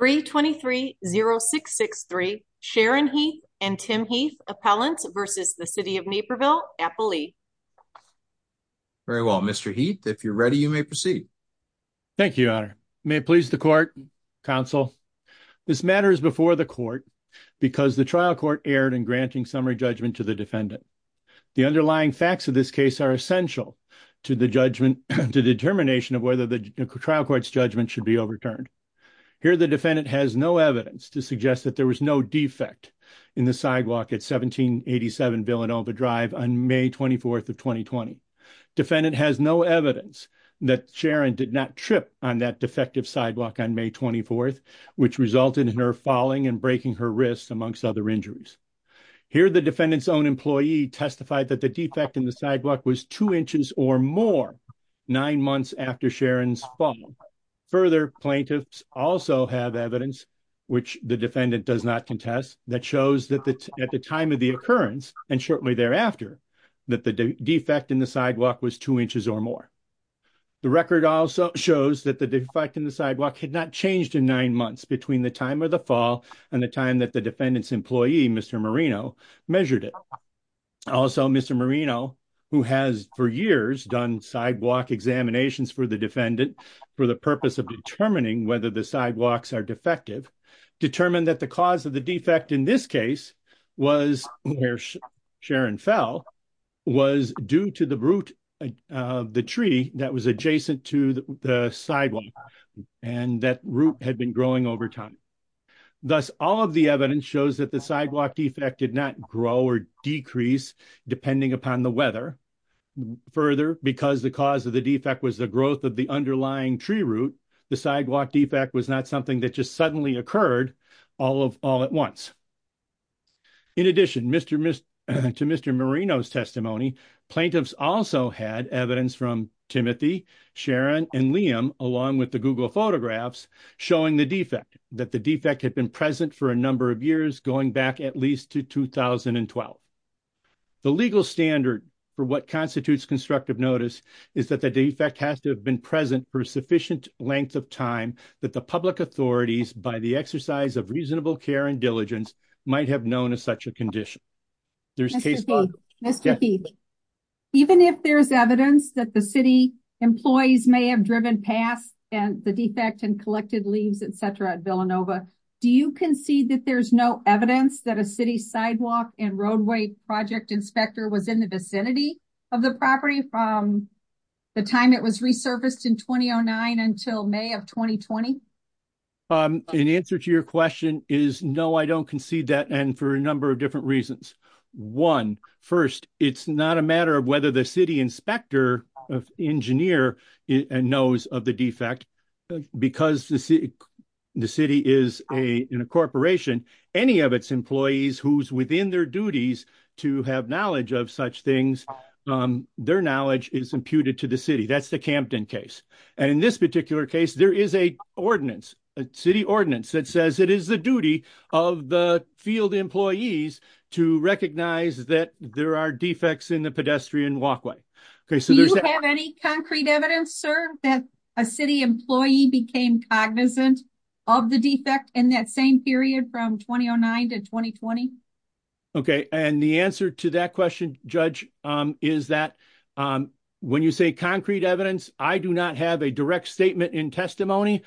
3230663 Sharon Heath and Tim Heath Appellant versus the City of Naperville Appellee. Very well Mr. Heath if you're ready you may proceed. Thank you Your Honor. May it please the court, counsel. This matter is before the court because the trial court erred in granting summary judgment to the defendant. The underlying facts of this case are essential to the judgment to determination of whether the trial court's judgment should be overturned. Here the defendant has no evidence to suggest that there was no defect in the sidewalk at 1787 Villanova Drive on May 24th of 2020. Defendant has no evidence that Sharon did not trip on that defective sidewalk on May 24th which resulted in her falling and breaking her wrist amongst other injuries. Here the defendant's own employee testified that the in the sidewalk was two inches or more nine months after Sharon's fall. Further plaintiffs also have evidence which the defendant does not contest that shows that at the time of the occurrence and shortly thereafter that the defect in the sidewalk was two inches or more. The record also shows that the defect in the sidewalk had not changed in nine months between the time of the fall and the time that the defendant's employee Mr. Marino measured it. Also Mr. Marino who has for years done sidewalk examinations for the defendant for the purpose of determining whether the sidewalks are defective determined that the cause of the defect in this case was where Sharon fell was due to the root of the tree that was adjacent to the sidewalk and that root had been growing over time. Thus all of the evidence shows that the sidewalk defect did grow or decrease depending upon the weather. Further because the cause of the defect was the growth of the underlying tree root the sidewalk defect was not something that just suddenly occurred all at once. In addition to Mr. Marino's testimony plaintiffs also had evidence from Timothy, Sharon and Liam along with the Google photographs showing the defect that the defect occurred in 2012. The legal standard for what constitutes constructive notice is that the defect has to have been present for a sufficient length of time that the public authorities by the exercise of reasonable care and diligence might have known as such a condition. There's even if there's evidence that the city employees may have driven past and the defect and collected at Villanova. Do you concede that there's no evidence that a city sidewalk and roadway project inspector was in the vicinity of the property from the time it was resurfaced in 2009 until May of 2020? An answer to your question is no I don't concede that and for a number of different reasons. One first it's not a matter of whether the city inspector of engineer knows of the defect because the city is a corporation any of its employees who's within their duties to have knowledge of such things their knowledge is imputed to the city that's the Campton case and in this particular case there is a ordinance a city ordinance that says it is the duty of the field employees to recognize that there are defects in the pedestrian walkway. Do you have any concrete evidence sir that a city employee became cognizant of the defect in that same period from 2009 to 2020? Okay and the answer to that question judge is that when you say concrete evidence I do not have a direct statement in testimony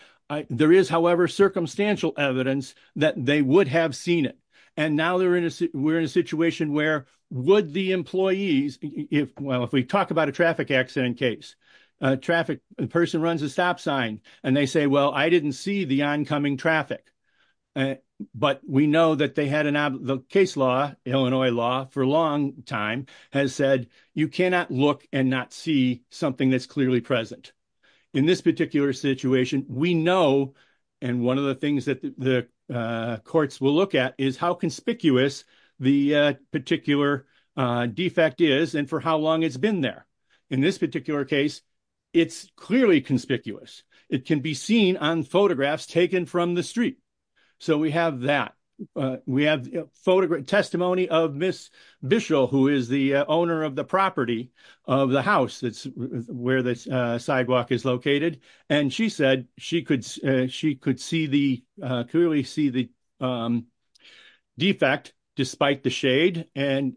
there is however circumstantial evidence that they would have seen it and now they're in a we're in a situation where would the employees if well if we talk about a traffic accident case traffic the person runs a stop sign and they say well I didn't see the oncoming traffic but we know that they had an the case law Illinois law for a long time has said you cannot look and not see something that's clearly present in this particular situation we know and one of the things that the courts will look at is how conspicuous the particular defect is and for how long it's been there in this particular case it's clearly conspicuous it can be seen on photographs taken from the street so we have that we have photograph testimony of Miss Bischel who is the owner of the property of the house that's where this sidewalk is located and she said she could she could see the clearly see the defect despite the shade and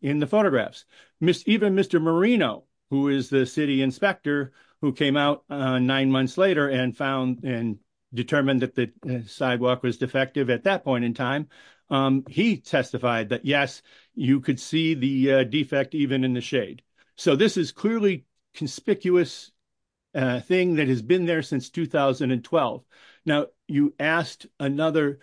in the photographs Miss even Mr. Marino who is the city inspector who came out nine months later and found and determined that the sidewalk was defective at that point in time he testified that yes you could see the defect even in the shade so this is clearly conspicuous thing that has been there since 2012 now you asked another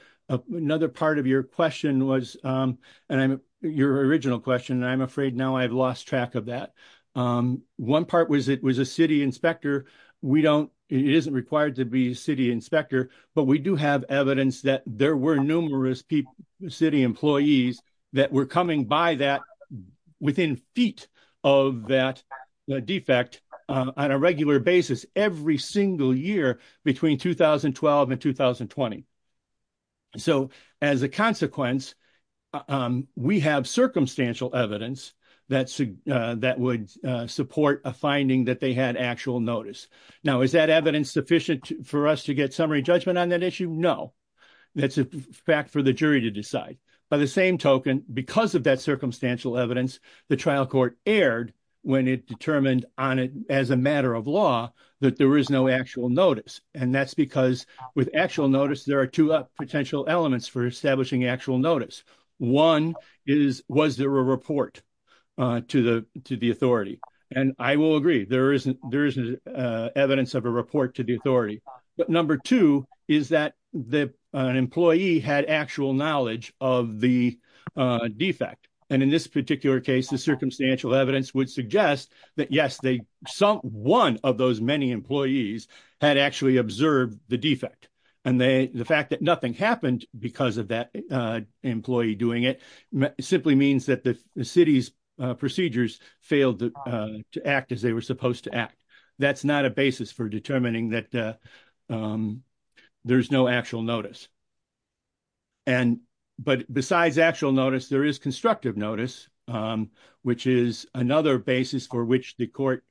another part of your question was and I'm your original question and I'm afraid now I've lost track of that one part was it was a city inspector we don't it isn't required to be a city inspector but we do have evidence that there were numerous people city employees that were coming by that within feet of that the defect on a regular basis every single year between 2012 and 2020 so as a consequence we have circumstantial evidence that's that would support a finding that they had actual notice now is that evidence sufficient for us to get summary judgment on that issue no that's a fact for the jury to decide by the same token because of that circumstantial evidence the trial court erred when it determined on it as a matter of law that there is no actual notice and that's because with actual notice there are two potential elements for establishing actual notice one is was there a report uh to the to the and I will agree there isn't there isn't uh evidence of a report to the authority but number two is that the an employee had actual knowledge of the uh defect and in this particular case the circumstantial evidence would suggest that yes they some one of those many employees had actually observed the defect and they the fact that nothing happened because of that uh employee doing it simply means that the city's procedures failed to act as they were supposed to act that's not a basis for determining that there's no actual notice and but besides actual notice there is constructive notice which is another basis for which the court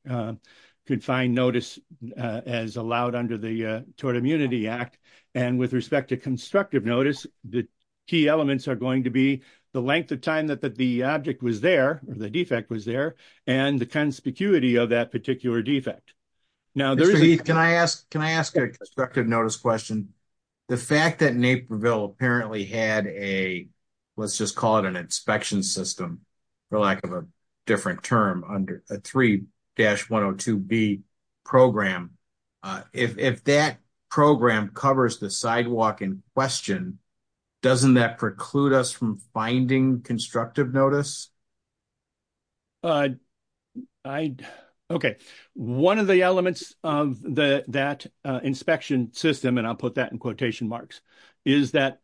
could find notice as allowed under the tort immunity act and with respect to constructive notice the key elements are the length of time that the object was there or the defect was there and the conspicuity of that particular defect now can I ask can I ask a constructive notice question the fact that naperville apparently had a let's just call it an inspection system for lack of a different term under a 3-102b program uh if if that program covers the sidewalk in question doesn't that preclude us from finding constructive notice uh I okay one of the elements of the that inspection system and I'll put that in quotation marks is that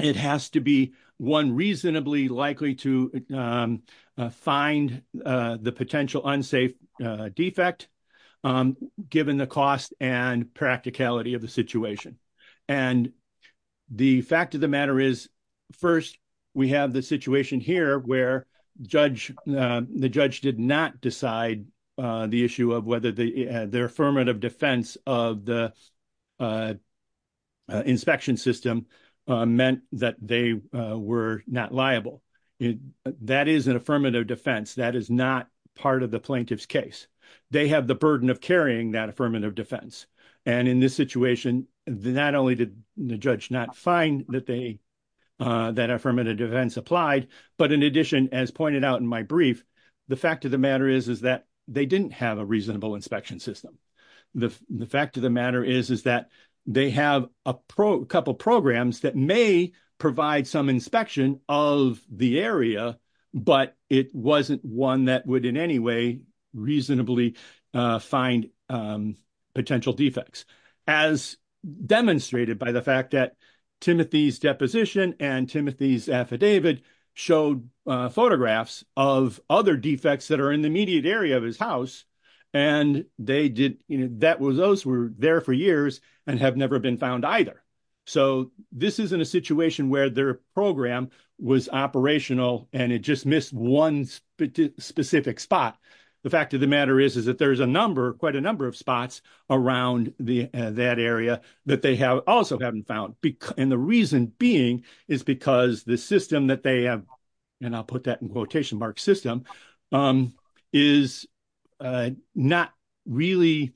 it has to be one reasonably likely to find the potential unsafe defect given the cost and practicality of the situation and the fact of the matter is first we have the situation here where judge uh the judge did not decide uh the issue of whether the their affirmative defense of the uh inspection system meant that they were not liable that is an affirmative defense that is not part of the plaintiff's case they have the burden of carrying that affirmative defense and in this situation not only did the judge not find that they uh that affirmative defense applied but in addition as pointed out in my brief the fact of the matter is is that they didn't have a reasonable inspection system the the fact of the matter is is that they have a pro couple programs that may provide some inspection of the area but it wasn't one that would in any way reasonably uh find um potential defects as demonstrated by the fact that timothy's deposition and timothy's affidavit showed photographs of other defects that are in the immediate area of his house and they did you know that was those were there for years and have never been found either so this isn't a situation where their program was operational and it just missed one specific spot the fact of the matter is is that there's a number quite a number of spots around the that area that they have also haven't found because and the reason being is because the system that they have and i'll put that in quotation mark system um is uh not really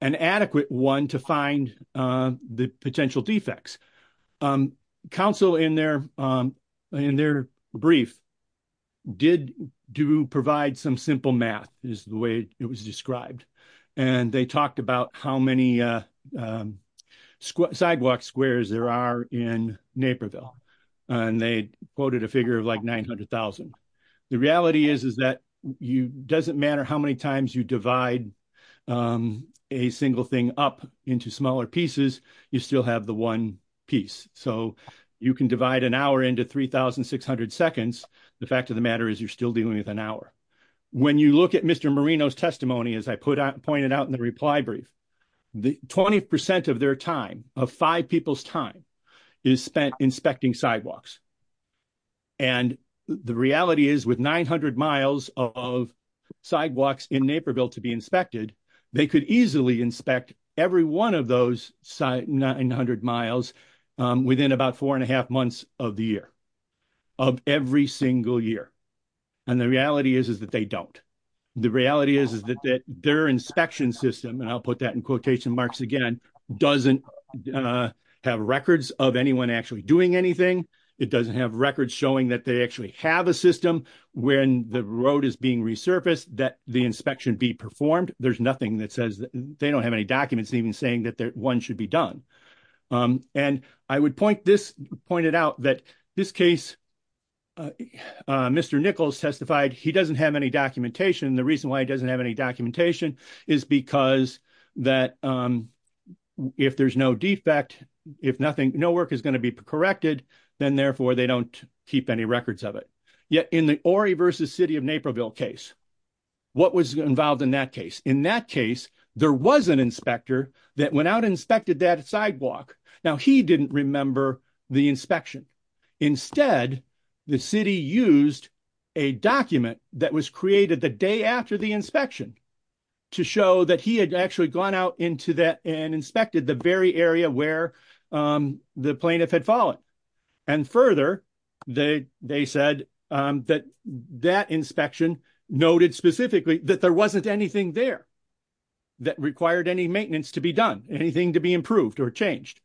an adequate one to find uh the potential defects um council in their um in their brief did do provide some simple math is the way it was described and they talked about how many uh um sidewalk squares there are in naperville and they quoted a figure of like nine hundred thousand the reality is is that you doesn't matter how many times you divide um a single thing up into smaller pieces you still have the one piece so you can divide an hour into 3 600 seconds the fact of the matter is you're still dealing with an hour when you look at mr marino's testimony as i put out pointed out in the reply brief the 20 of their time of five people's time is spent inspecting sidewalks and the reality is with 900 miles of sidewalks in naperville to be inspected they could easily inspect every one of those 900 miles within about four and a half months of the year of every single year and the reality is is that they don't the reality is is that that their inspection system and i'll put that in quotation marks again doesn't uh have records of anyone actually doing anything it doesn't have records showing that they actually have a system when the road is being resurfaced that the inspection be performed there's nothing that says they don't have any documents even saying that their one should be done um and i would point this pointed out that this case uh mr nichols testified he doesn't have any documentation the reason why he doesn't have any documentation is because that um if there's no defect if nothing no work is going to be corrected then therefore they don't keep any records of it yet in the ori versus city of naperville case what was involved in that case in that case there was an inspector that went out inspected that sidewalk now he didn't remember the inspection instead the city used a document that was created the day after the inspection to show that he had actually gone out into that and inspected the very area where um the plaintiff had fallen and further they they said um that that inspection noted specifically that there wasn't anything there that required any maintenance to be done anything to be improved or changed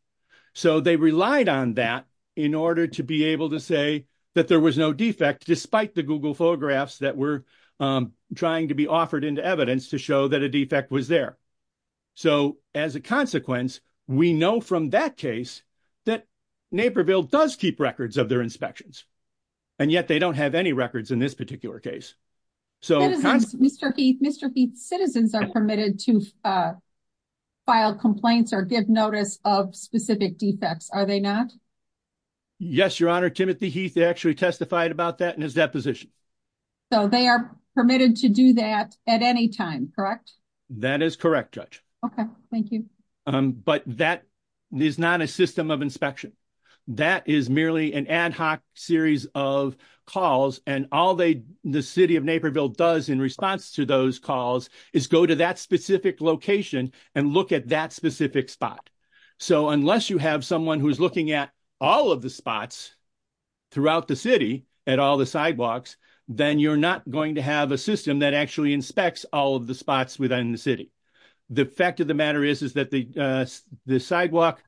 so they relied on that in order to be able to say that there was no defect despite the google photographs that were um trying to be offered into evidence to show that a defect was there so as a consequence we know from that case that naperville does keep records of their inspections and yet they don't have any records in this particular case so mr heath mr heath citizens are permitted to uh file complaints or give notice of specific defects are they not yes your honor timothy heath actually testified about that in deposition so they are permitted to do that at any time correct that is correct judge okay thank you um but that is not a system of inspection that is merely an ad hoc series of calls and all they the city of naperville does in response to those calls is go to that specific location and look at that specific spot so unless you have someone who's looking at all of the spots throughout the at all the sidewalks then you're not going to have a system that actually inspects all of the spots within the city the fact of the matter is is that the uh the sidewalk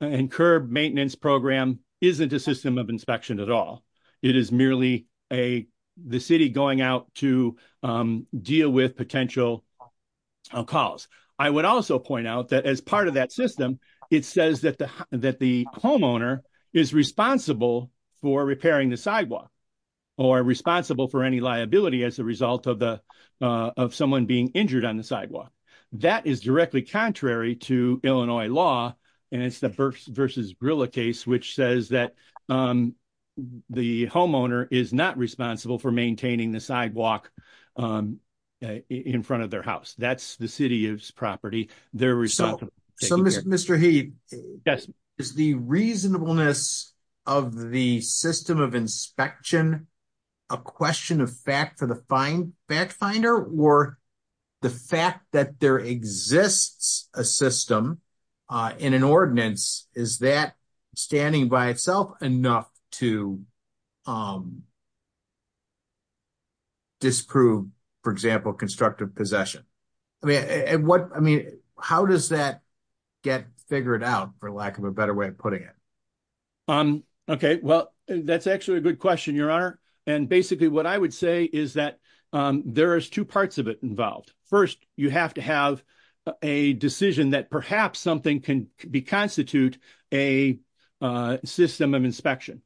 and curb maintenance program isn't a system of inspection at all it is merely a the city going out to um deal with potential calls i would also point out that as part of that system it says that the that the homeowner is responsible for repairing the sidewalk or responsible for any liability as a result of the uh of someone being injured on the sidewalk that is directly contrary to illinois law and it's the birth versus gorilla case which says that um the homeowner is not responsible for maintaining the sidewalk um in front of their house that's the city's property their result so mr he yes is the reasonableness of the system of inspection a question of fact for the fine back finder or the fact that there exists a system uh in an ordinance is that standing by itself enough to um disprove for example constructive possession i mean and what i mean how does that get figured out for lack of a better way of putting it um okay well that's actually a good question your honor and basically what i would say is that um there is two parts of it involved first you have to have a decision that perhaps something can be constitute a uh system of inspection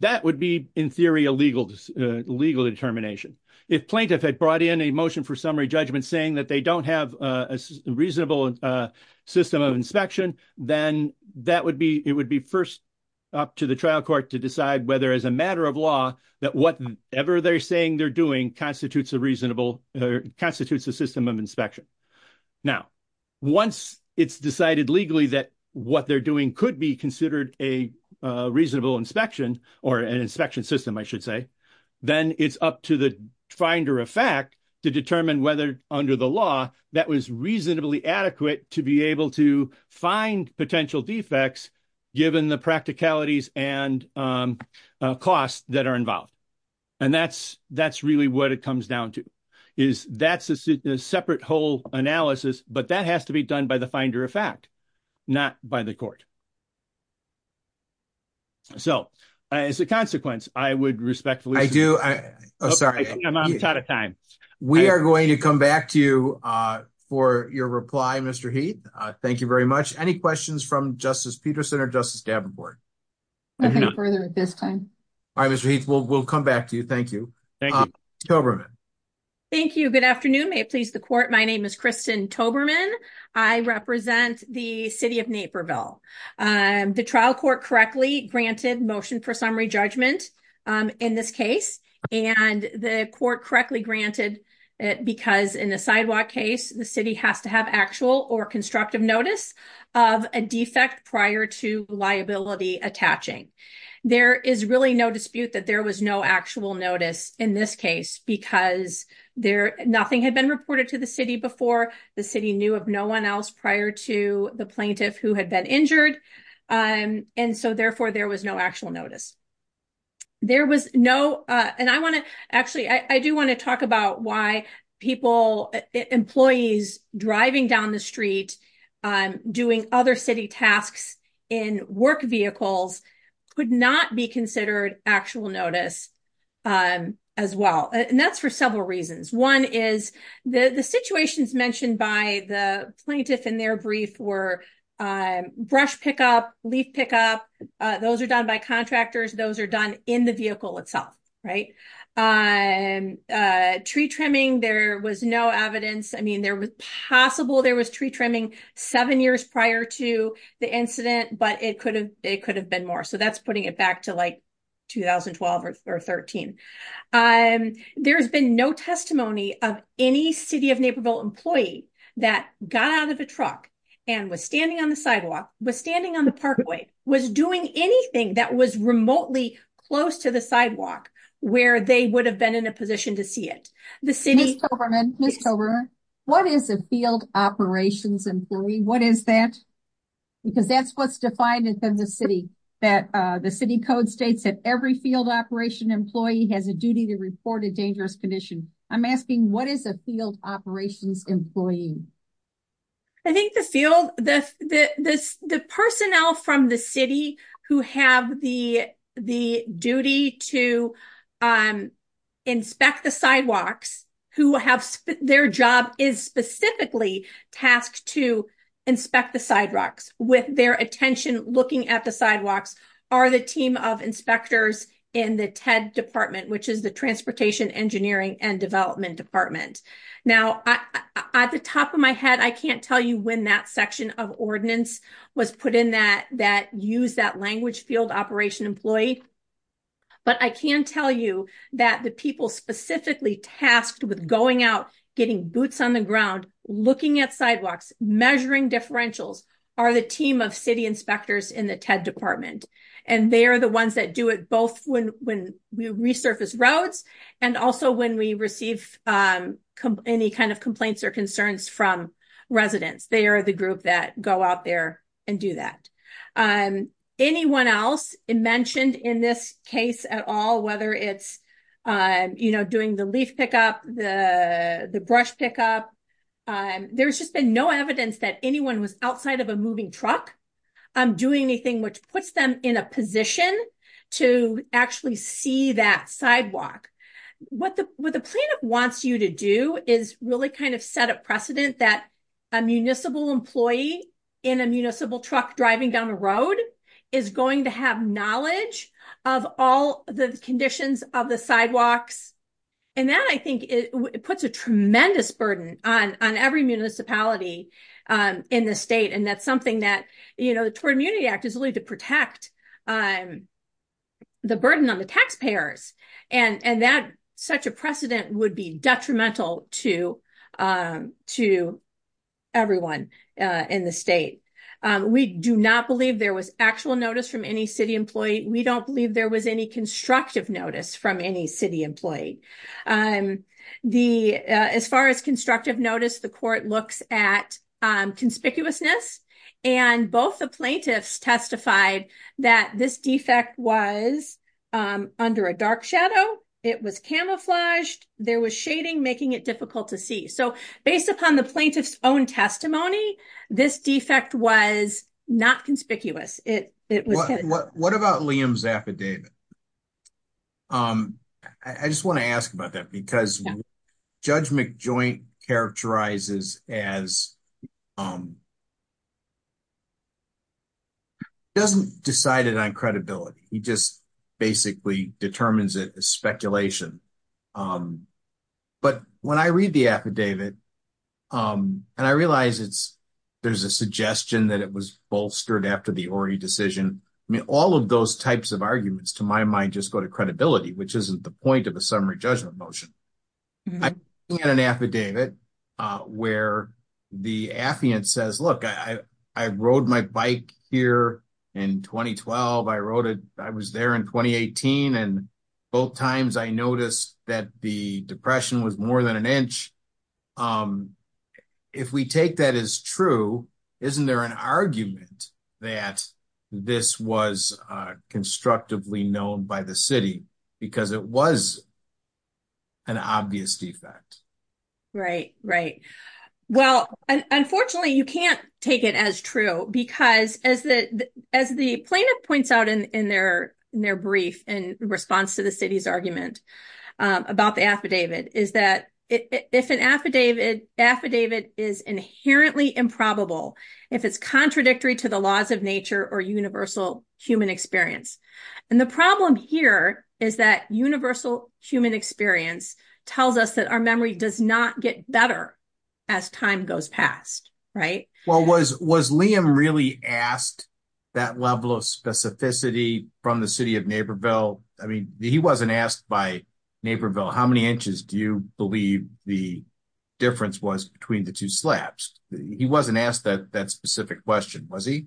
that would be in theory a legal legal determination if plaintiff had brought in a motion for summary judgment saying that they don't have a reasonable system of inspection then that would be it would be first up to the trial court to decide whether as a matter of law that whatever they're saying they're doing constitutes a reasonable constitutes a system of inspection now once it's decided legally that what they're doing could be considered a reasonable inspection or an inspection system i should say then it's up to the finder of fact to determine whether under the law that was reasonably adequate to be able to find potential defects given the practicalities and costs that are involved and that's that's really what it comes down to is that's a separate whole analysis but that has to be done by the finder of fact not by the court so as a consequence i would respectfully i do i i'm sorry i'm out of time we are going to come back to you uh for your reply mr heath uh thank you very much any questions from justice peterson or justice davenport nothing further at this time all right mr heath we'll we'll come back to you thank you toberman thank you good afternoon may it please the court my name is kristen toberman i represent the city of naperville um the trial court correctly granted motion for summary judgment um in this case and the court correctly granted because in the sidewalk case the city has to have actual or constructive notice of a defect prior to liability attaching there is really no that there was no actual notice in this case because there nothing had been reported to the city before the city knew of no one else prior to the plaintiff who had been injured um and so therefore there was no actual notice there was no uh and i want to actually i do want to talk about why people employees driving down the street um doing other city tasks in work vehicles could not be considered actual notice um as well and that's for several reasons one is the the situations mentioned by the plaintiff in their brief were um brush pickup leaf pickup those are done by contractors those are done in the vehicle itself right um uh tree trimming there was no evidence i mean there was possible there was tree trimming seven years prior to the incident but it could it could have been more so that's putting it back to like 2012 or 13. um there's been no testimony of any city of naperville employee that got out of a truck and was standing on the sidewalk was standing on the parkway was doing anything that was remotely close to the sidewalk where they would have been in a position to see it the city over what is a field operations employee what is that because that's what's defined within the city that uh the city code states that every field operation employee has a duty to report a dangerous condition i'm asking what is a field operations employee i think the field the the this the personnel from the city who have the the duty to um inspect the sidewalks who have their job is specifically tasked to inspect the sidewalks with their attention looking at the sidewalks are the team of inspectors in the ted department which is the transportation engineering and development department now at the top of my head i can't tell you when that section of ordinance was put in that that used that language field operation employee but i can tell you that the people specifically tasked with going out getting boots on the ground looking at sidewalks measuring differentials are the team of city inspectors in the ted department and they are the ones that do it both when when we resurface roads and also when we receive um any kind of complaints or concerns from residents they are the group that go out there and do that um anyone else mentioned in this case at all whether it's um you know doing the leaf pickup the the brush pickup um there's just been no evidence that anyone was outside of a moving truck um doing anything which puts them in a position to actually see that sidewalk what the what the plaintiff wants you to do is really kind of set a precedent that a municipal employee in a municipal truck driving down the road is going to have knowledge of all the conditions of the sidewalks and that i think it puts a tremendous burden on on every municipality um in the state and that's something that you know the toward immunity act is really to protect um the burden on the taxpayers and and that such a precedent would be detrimental to um to everyone uh in the state um we do not believe there was actual notice from any city employee we don't believe there was any constructive notice from any city employee um the as far as constructive notice the court looks at um conspicuousness and both the plaintiffs testified that this defect was um under a dark shadow it was camouflaged there was shading making it difficult to see so based upon the plaintiff's own testimony this defect was not conspicuous it it was what about liam's affidavit um i just want to ask about that because judge mcjoint characterizes as um doesn't decide it on credibility he just basically determines it as speculation um but when i read the affidavit um and i realize it's there's a suggestion that it was bolstered after the ori decision i mean all of those types of arguments to my mind just go to credibility which isn't the point of a summary judgment motion i had an affidavit uh where the affiant says look i i rode my bike here in 2012 i wrote it i was there in 2018 and both times i noticed that the depression was more than an inch um if we take that as true isn't there an argument that this was uh constructively known by the city because it was an obvious defect right right well unfortunately you can't take it as true because as the as the plaintiff points out in in their in their brief in response to the city's argument about the affidavit is that if an affidavit affidavit is inherently improbable if it's contradictory to the laws of nature or universal human experience and the problem here is that universal human experience tells us that our memory does not get better as time goes past right well was was liam really asked that level of specificity from the city of naperville i mean he wasn't asked by naperville how many inches do believe the difference was between the two slabs he wasn't asked that that specific question was he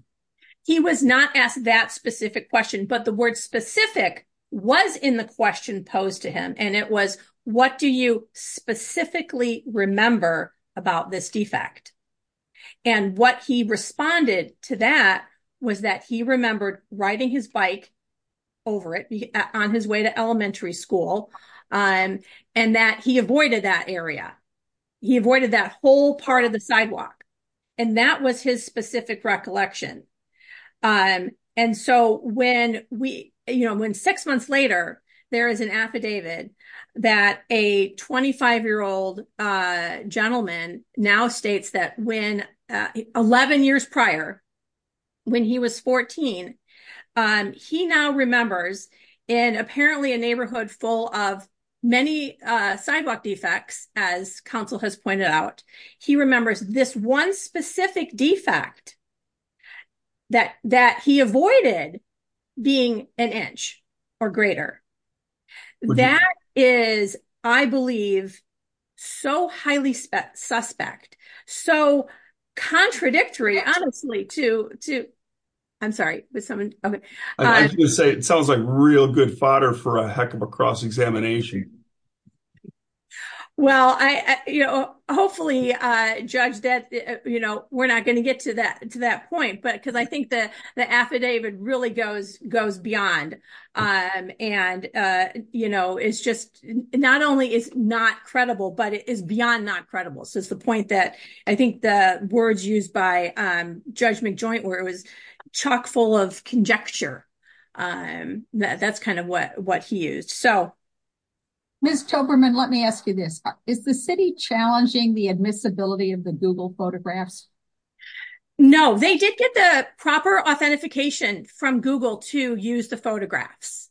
he was not asked that specific question but the word specific was in the question posed to him and it was what do you specifically remember about this defect and what he responded to that was that he remembered riding his bike over it on his way to elementary school um and that he avoided that area he avoided that whole part of the sidewalk and that was his specific recollection um and so when we you know when six months later there is an affidavit that a 25 year old uh gentleman now states that when 11 years prior when he was 14 um he now remembers in apparently a neighborhood full of many uh sidewalk defects as council has pointed out he remembers this one specific defect that that he avoided being an inch or greater that is i believe so highly suspect so contradictory honestly to to i'm sorry it sounds like real good fodder for a heck of a cross-examination well i you know hopefully uh judge that you know we're not going to get to that to that point but i think the the affidavit really goes goes beyond um and uh you know it's just not only is not credible but it is beyond not credible so it's the point that i think the words used by um judge mcjoint where it was chock full of conjecture um that's kind of what what he used so miss toberman let me ask you this is the city challenging the admissibility of the google photographs no they did get the proper authentication from google to use the photographs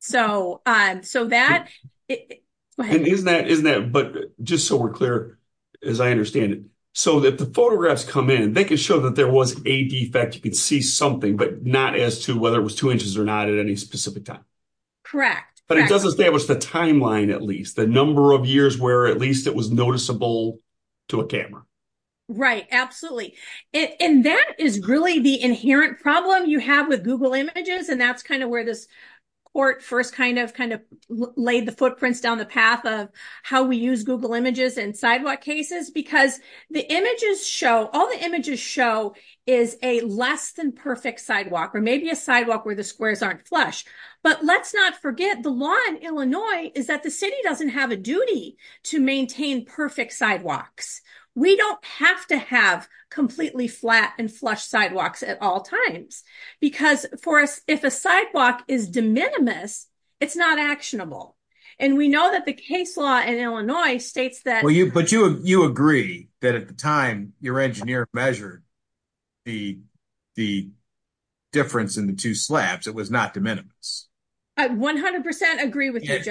so um so that isn't that isn't that but just so we're clear as i understand it so that the photographs come in they can show that there was a defect you could see something but not as to whether it was two inches or not at any specific time correct but it doesn't establish the timeline at least the number of years where at least it was noticeable to a camera right absolutely and that is really the inherent problem you have with google images and that's kind of where this court first kind of kind of laid the footprints down the path of how we use google images and sidewalk cases because the images show all the images show is a less than perfect sidewalk or maybe a sidewalk where the squares aren't flush but let's not forget the law in illinois is that the city doesn't have a duty to maintain perfect sidewalks we don't have to have completely flat and flush sidewalks at all times because for us if a sidewalk is de minimis it's not actionable and we know that the case law in illinois states that well you but you you agree that at the time your engineer measured the the difference in the two slabs it was not de minimis 100 agree with you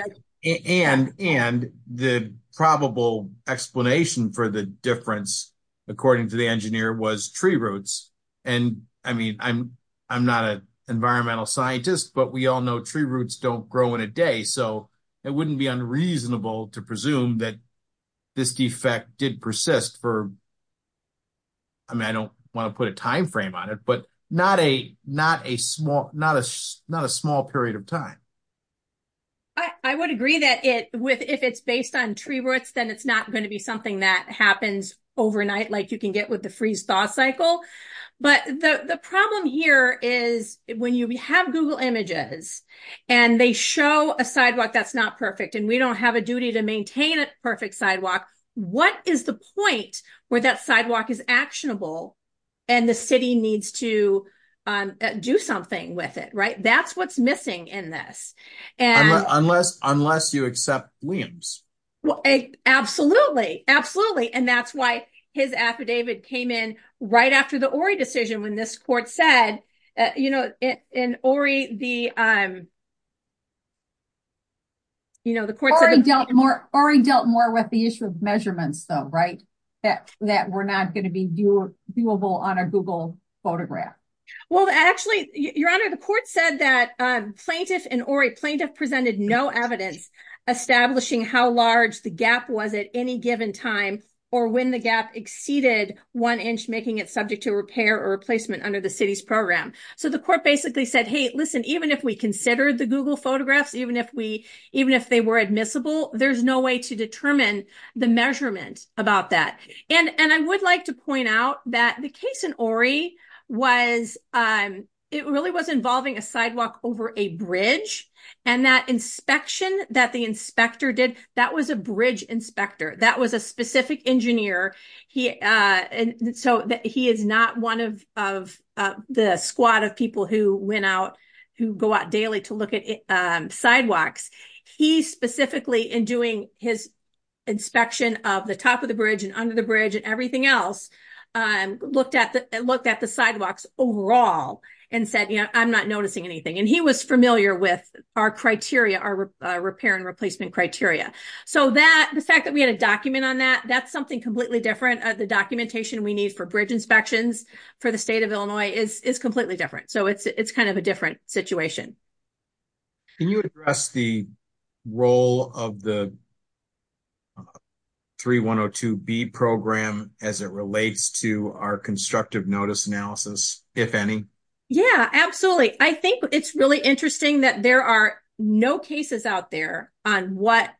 and and the probable explanation for the difference according to the engineer was tree roots and i mean i'm i'm not a environmental scientist but we all know tree roots don't grow in a day so it wouldn't be unreasonable to presume that this defect did persist for i mean i don't want to put a time frame on it but not a not a small not a not a small period of time i i would agree that it with if it's based on tree roots then it's not going to be something that happens overnight like you can get with the freeze thaw cycle but the the problem here is when you have google images and they show a sidewalk that's not perfect and we don't have a duty to maintain a perfect sidewalk what is the point where that sidewalk is actionable and the city needs to do something with it right that's what's missing in this and unless unless you accept williams well absolutely absolutely and that's why his affidavit came in right after the ori decision when this court said you know in ori the um you know the court dealt more ori dealt more with the issue of measurements though right that we're not going to be doable on a google photograph well actually your honor the court said that plaintiff and ori plaintiff presented no evidence establishing how large the gap was at any given time or when the gap exceeded one inch making it subject to repair or replacement under the city's program so the court basically said hey listen even if we considered the google photographs even if we even if they were admissible there's no way to determine the measurement about that and and i would like to point out that the case in ori was um it really was involving a sidewalk over a bridge and that inspection that the inspector did that was a bridge inspector that was a specific engineer he uh and so that he is not one of of the squad of people who went out who go out daily to look at um sidewalks he specifically in doing his inspection of the top of the bridge and under the bridge and everything else um looked at the looked at the sidewalks overall and said you know i'm not noticing anything and he was familiar with our criteria our repair and replacement criteria so that the fact that we had a document on that that's something completely different the documentation we need for bridge inspections for the state of illinois is is completely different so it's it's kind of a different situation can you address the role of the 3102b program as it relates to our constructive notice analysis if any yeah absolutely i think it's really interesting that there are no cases out there on what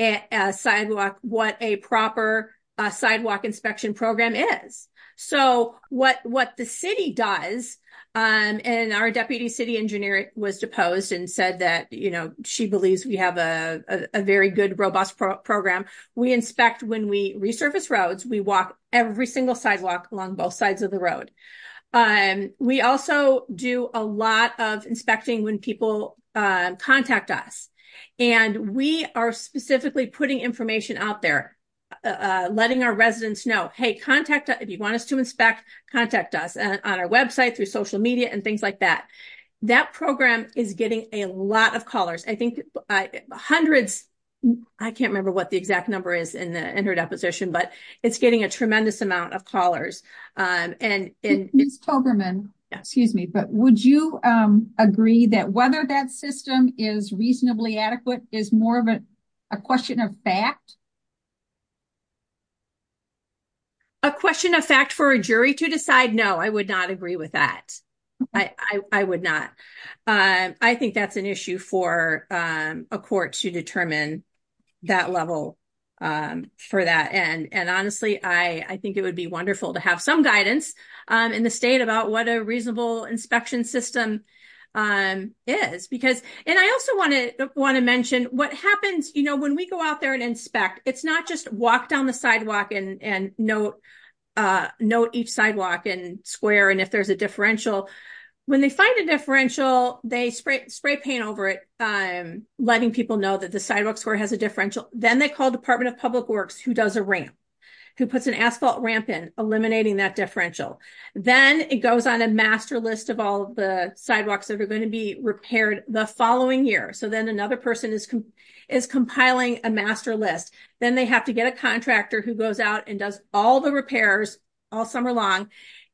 a sidewalk what a proper sidewalk inspection program is so what what the city does um and our deputy city engineer was deposed and said that you know she believes we have a a very good robust program we inspect when we resurface roads we walk every single sidewalk along both sides of the road um we also do a lot of inspecting when people contact us and we are specifically putting information out there letting our residents know hey contact if you want us to inspect contact us on our website through social media and things like that that program is getting a lot of callers i think hundreds i can't remember what the exact number is in the interdeposition but it's getting a tremendous amount of callers um and in miss toberman excuse me but would you um agree that whether that system is reasonably adequate is more of a question of fact a question of fact for a jury to decide no i would not agree with that i i would not um i think that's an issue for um a court to determine that level um for that and and honestly i i think it would be wonderful to have some guidance um in the state about what a reasonable inspection system um is because and i also want to want to mention what happens you know when we go out there and inspect it's not just walk down the sidewalk and and note uh note each sidewalk and square and if there's a differential when they find a differential they spray paint over it um letting people know that the sidewalk square has a differential then they call department of public works who does a ramp who puts an asphalt ramp in eliminating that differential then it goes on a master list of all the sidewalks that are going to be repaired the following year so then another person is is compiling a master list then they have to get a contractor who goes out and does all the repairs all summer long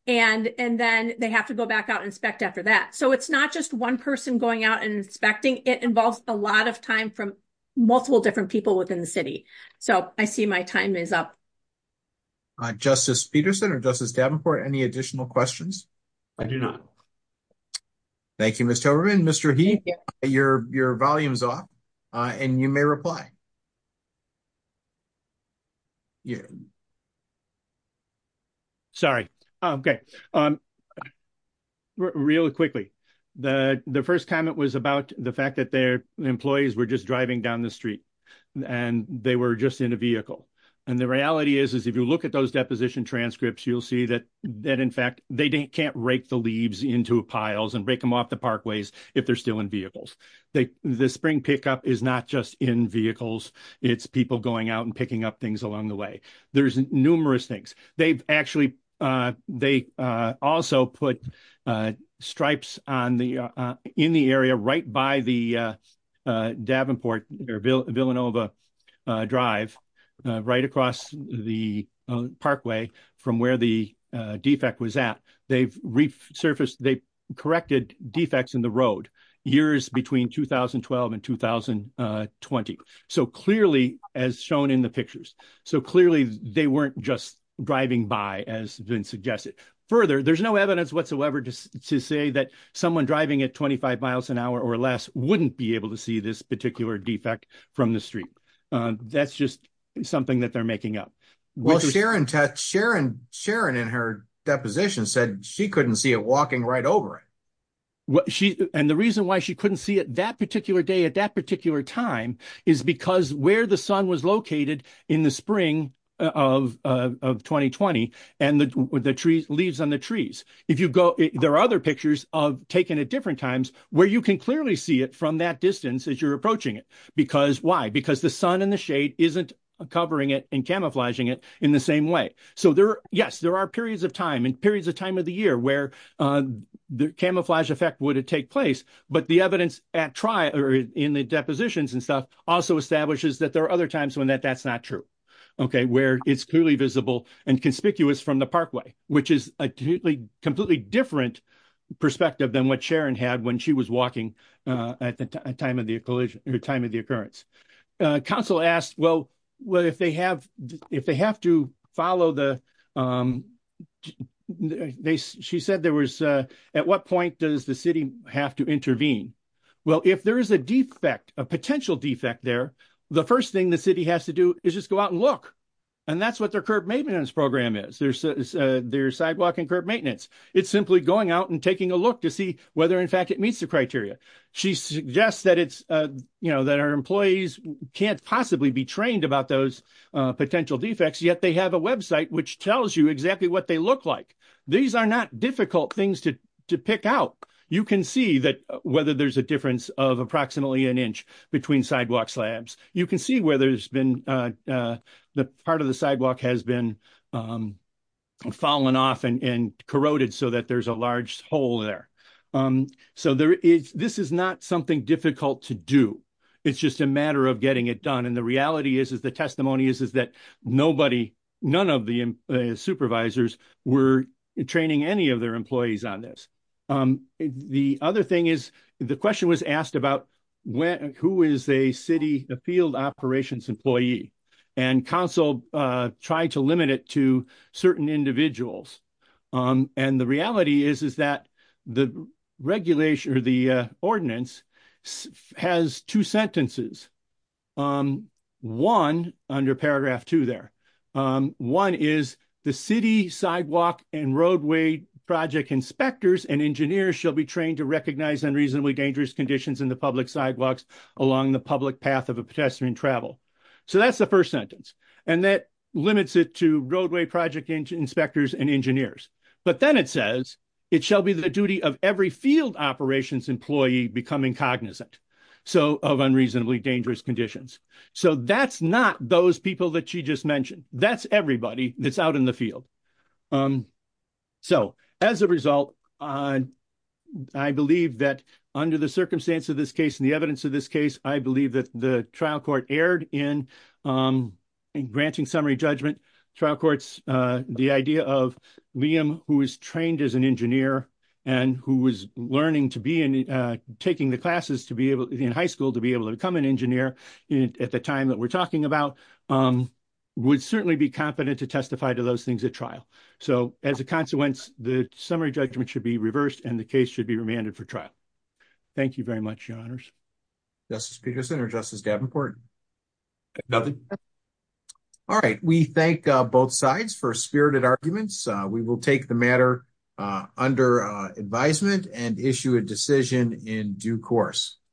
and and then they have to go back out inspect after that so it's not just one person going out and inspecting it involves a lot of time from multiple different people within the city so i see my time is up justice peterson or justice davenport any additional questions i do not thank you mr toberman mr he your your volumes off uh and you may reply yeah sorry okay um really quickly the the first comment was about the fact that their employees were just driving down the street and they were just in a vehicle and the reality is if you look at those deposition transcripts you'll see that that in fact they can't rake the leaves into piles and break them off the parkways if they're still in vehicles they the spring pickup is not just in vehicles it's people going out and picking up things along the way there's numerous things they've actually uh they uh also put uh stripes on the uh in the area right by the uh davenport or villanova uh drive right across the parkway from where the defect was at they've resurfaced they corrected defects in the road years between 2012 and 2020 so clearly as shown in the pictures so clearly they weren't just driving by as been suggested further there's no to say that someone driving at 25 miles an hour or less wouldn't be able to see this particular defect from the street uh that's just something that they're making up well sharon tess sharon sharon in her deposition said she couldn't see it walking right over it what she and the reason why she couldn't see it that particular day at that particular time is because where the sun was in the spring of uh of 2020 and the the trees leaves on the trees if you go there are other pictures of taken at different times where you can clearly see it from that distance as you're approaching it because why because the sun and the shade isn't covering it and camouflaging it in the same way so there yes there are periods of time and periods of time of the year where uh the camouflage effect would it take place but the evidence at tri or in the depositions and stuff also establishes that there are other times when that that's not true okay where it's clearly visible and conspicuous from the parkway which is a completely completely different perspective than what sharon had when she was walking uh at the time of the collision or time of the occurrence council asked well well if they have if they have to follow the um they she said there was uh what point does the city have to intervene well if there is a defect a potential defect there the first thing the city has to do is just go out and look and that's what their curb maintenance program is there's a there's sidewalk and curb maintenance it's simply going out and taking a look to see whether in fact it meets the criteria she suggests that it's uh you know that our employees can't possibly be trained about those uh potential defects yet they have a website which tells you exactly what they look like these are not difficult things to to pick out you can see that whether there's a difference of approximately an inch between sidewalk slabs you can see where there's been uh uh the part of the sidewalk has been um fallen off and and corroded so that there's a large hole there um so there is this is not something difficult to do it's just a matter of the reality is is the testimony is is that nobody none of the supervisors were training any of their employees on this um the other thing is the question was asked about when who is a city the field operations employee and council uh tried to limit it to certain individuals um and the reality is is that the regulation or the uh ordinance has two sentences um one under paragraph two there um one is the city sidewalk and roadway project inspectors and engineers shall be trained to recognize unreasonably dangerous conditions in the public sidewalks along the public path of a pedestrian travel so that's the first sentence and that limits it to roadway project inspectors and engineers but then it says it shall be the duty of every field operations employee becoming cognizant so of unreasonably dangerous conditions so that's not those people that she just mentioned that's everybody that's out in the field um so as a result on i believe that under the circumstance of this case in the evidence of this case i believe that the trial court erred in um in granting summary judgment trial courts uh the idea of liam who is trained as an engineer and who was learning to be in uh taking the classes to be able in high school to be able to become an engineer at the time that we're talking about um would certainly be competent to testify to those things at trial so as a consequence the summary judgment should be reversed and the case should be remanded for trial thank you very much your honors justice peterson or justice davenport nothing all right we thank both sides for spirited arguments we will take the matter under uh advisement and issue a decision in due course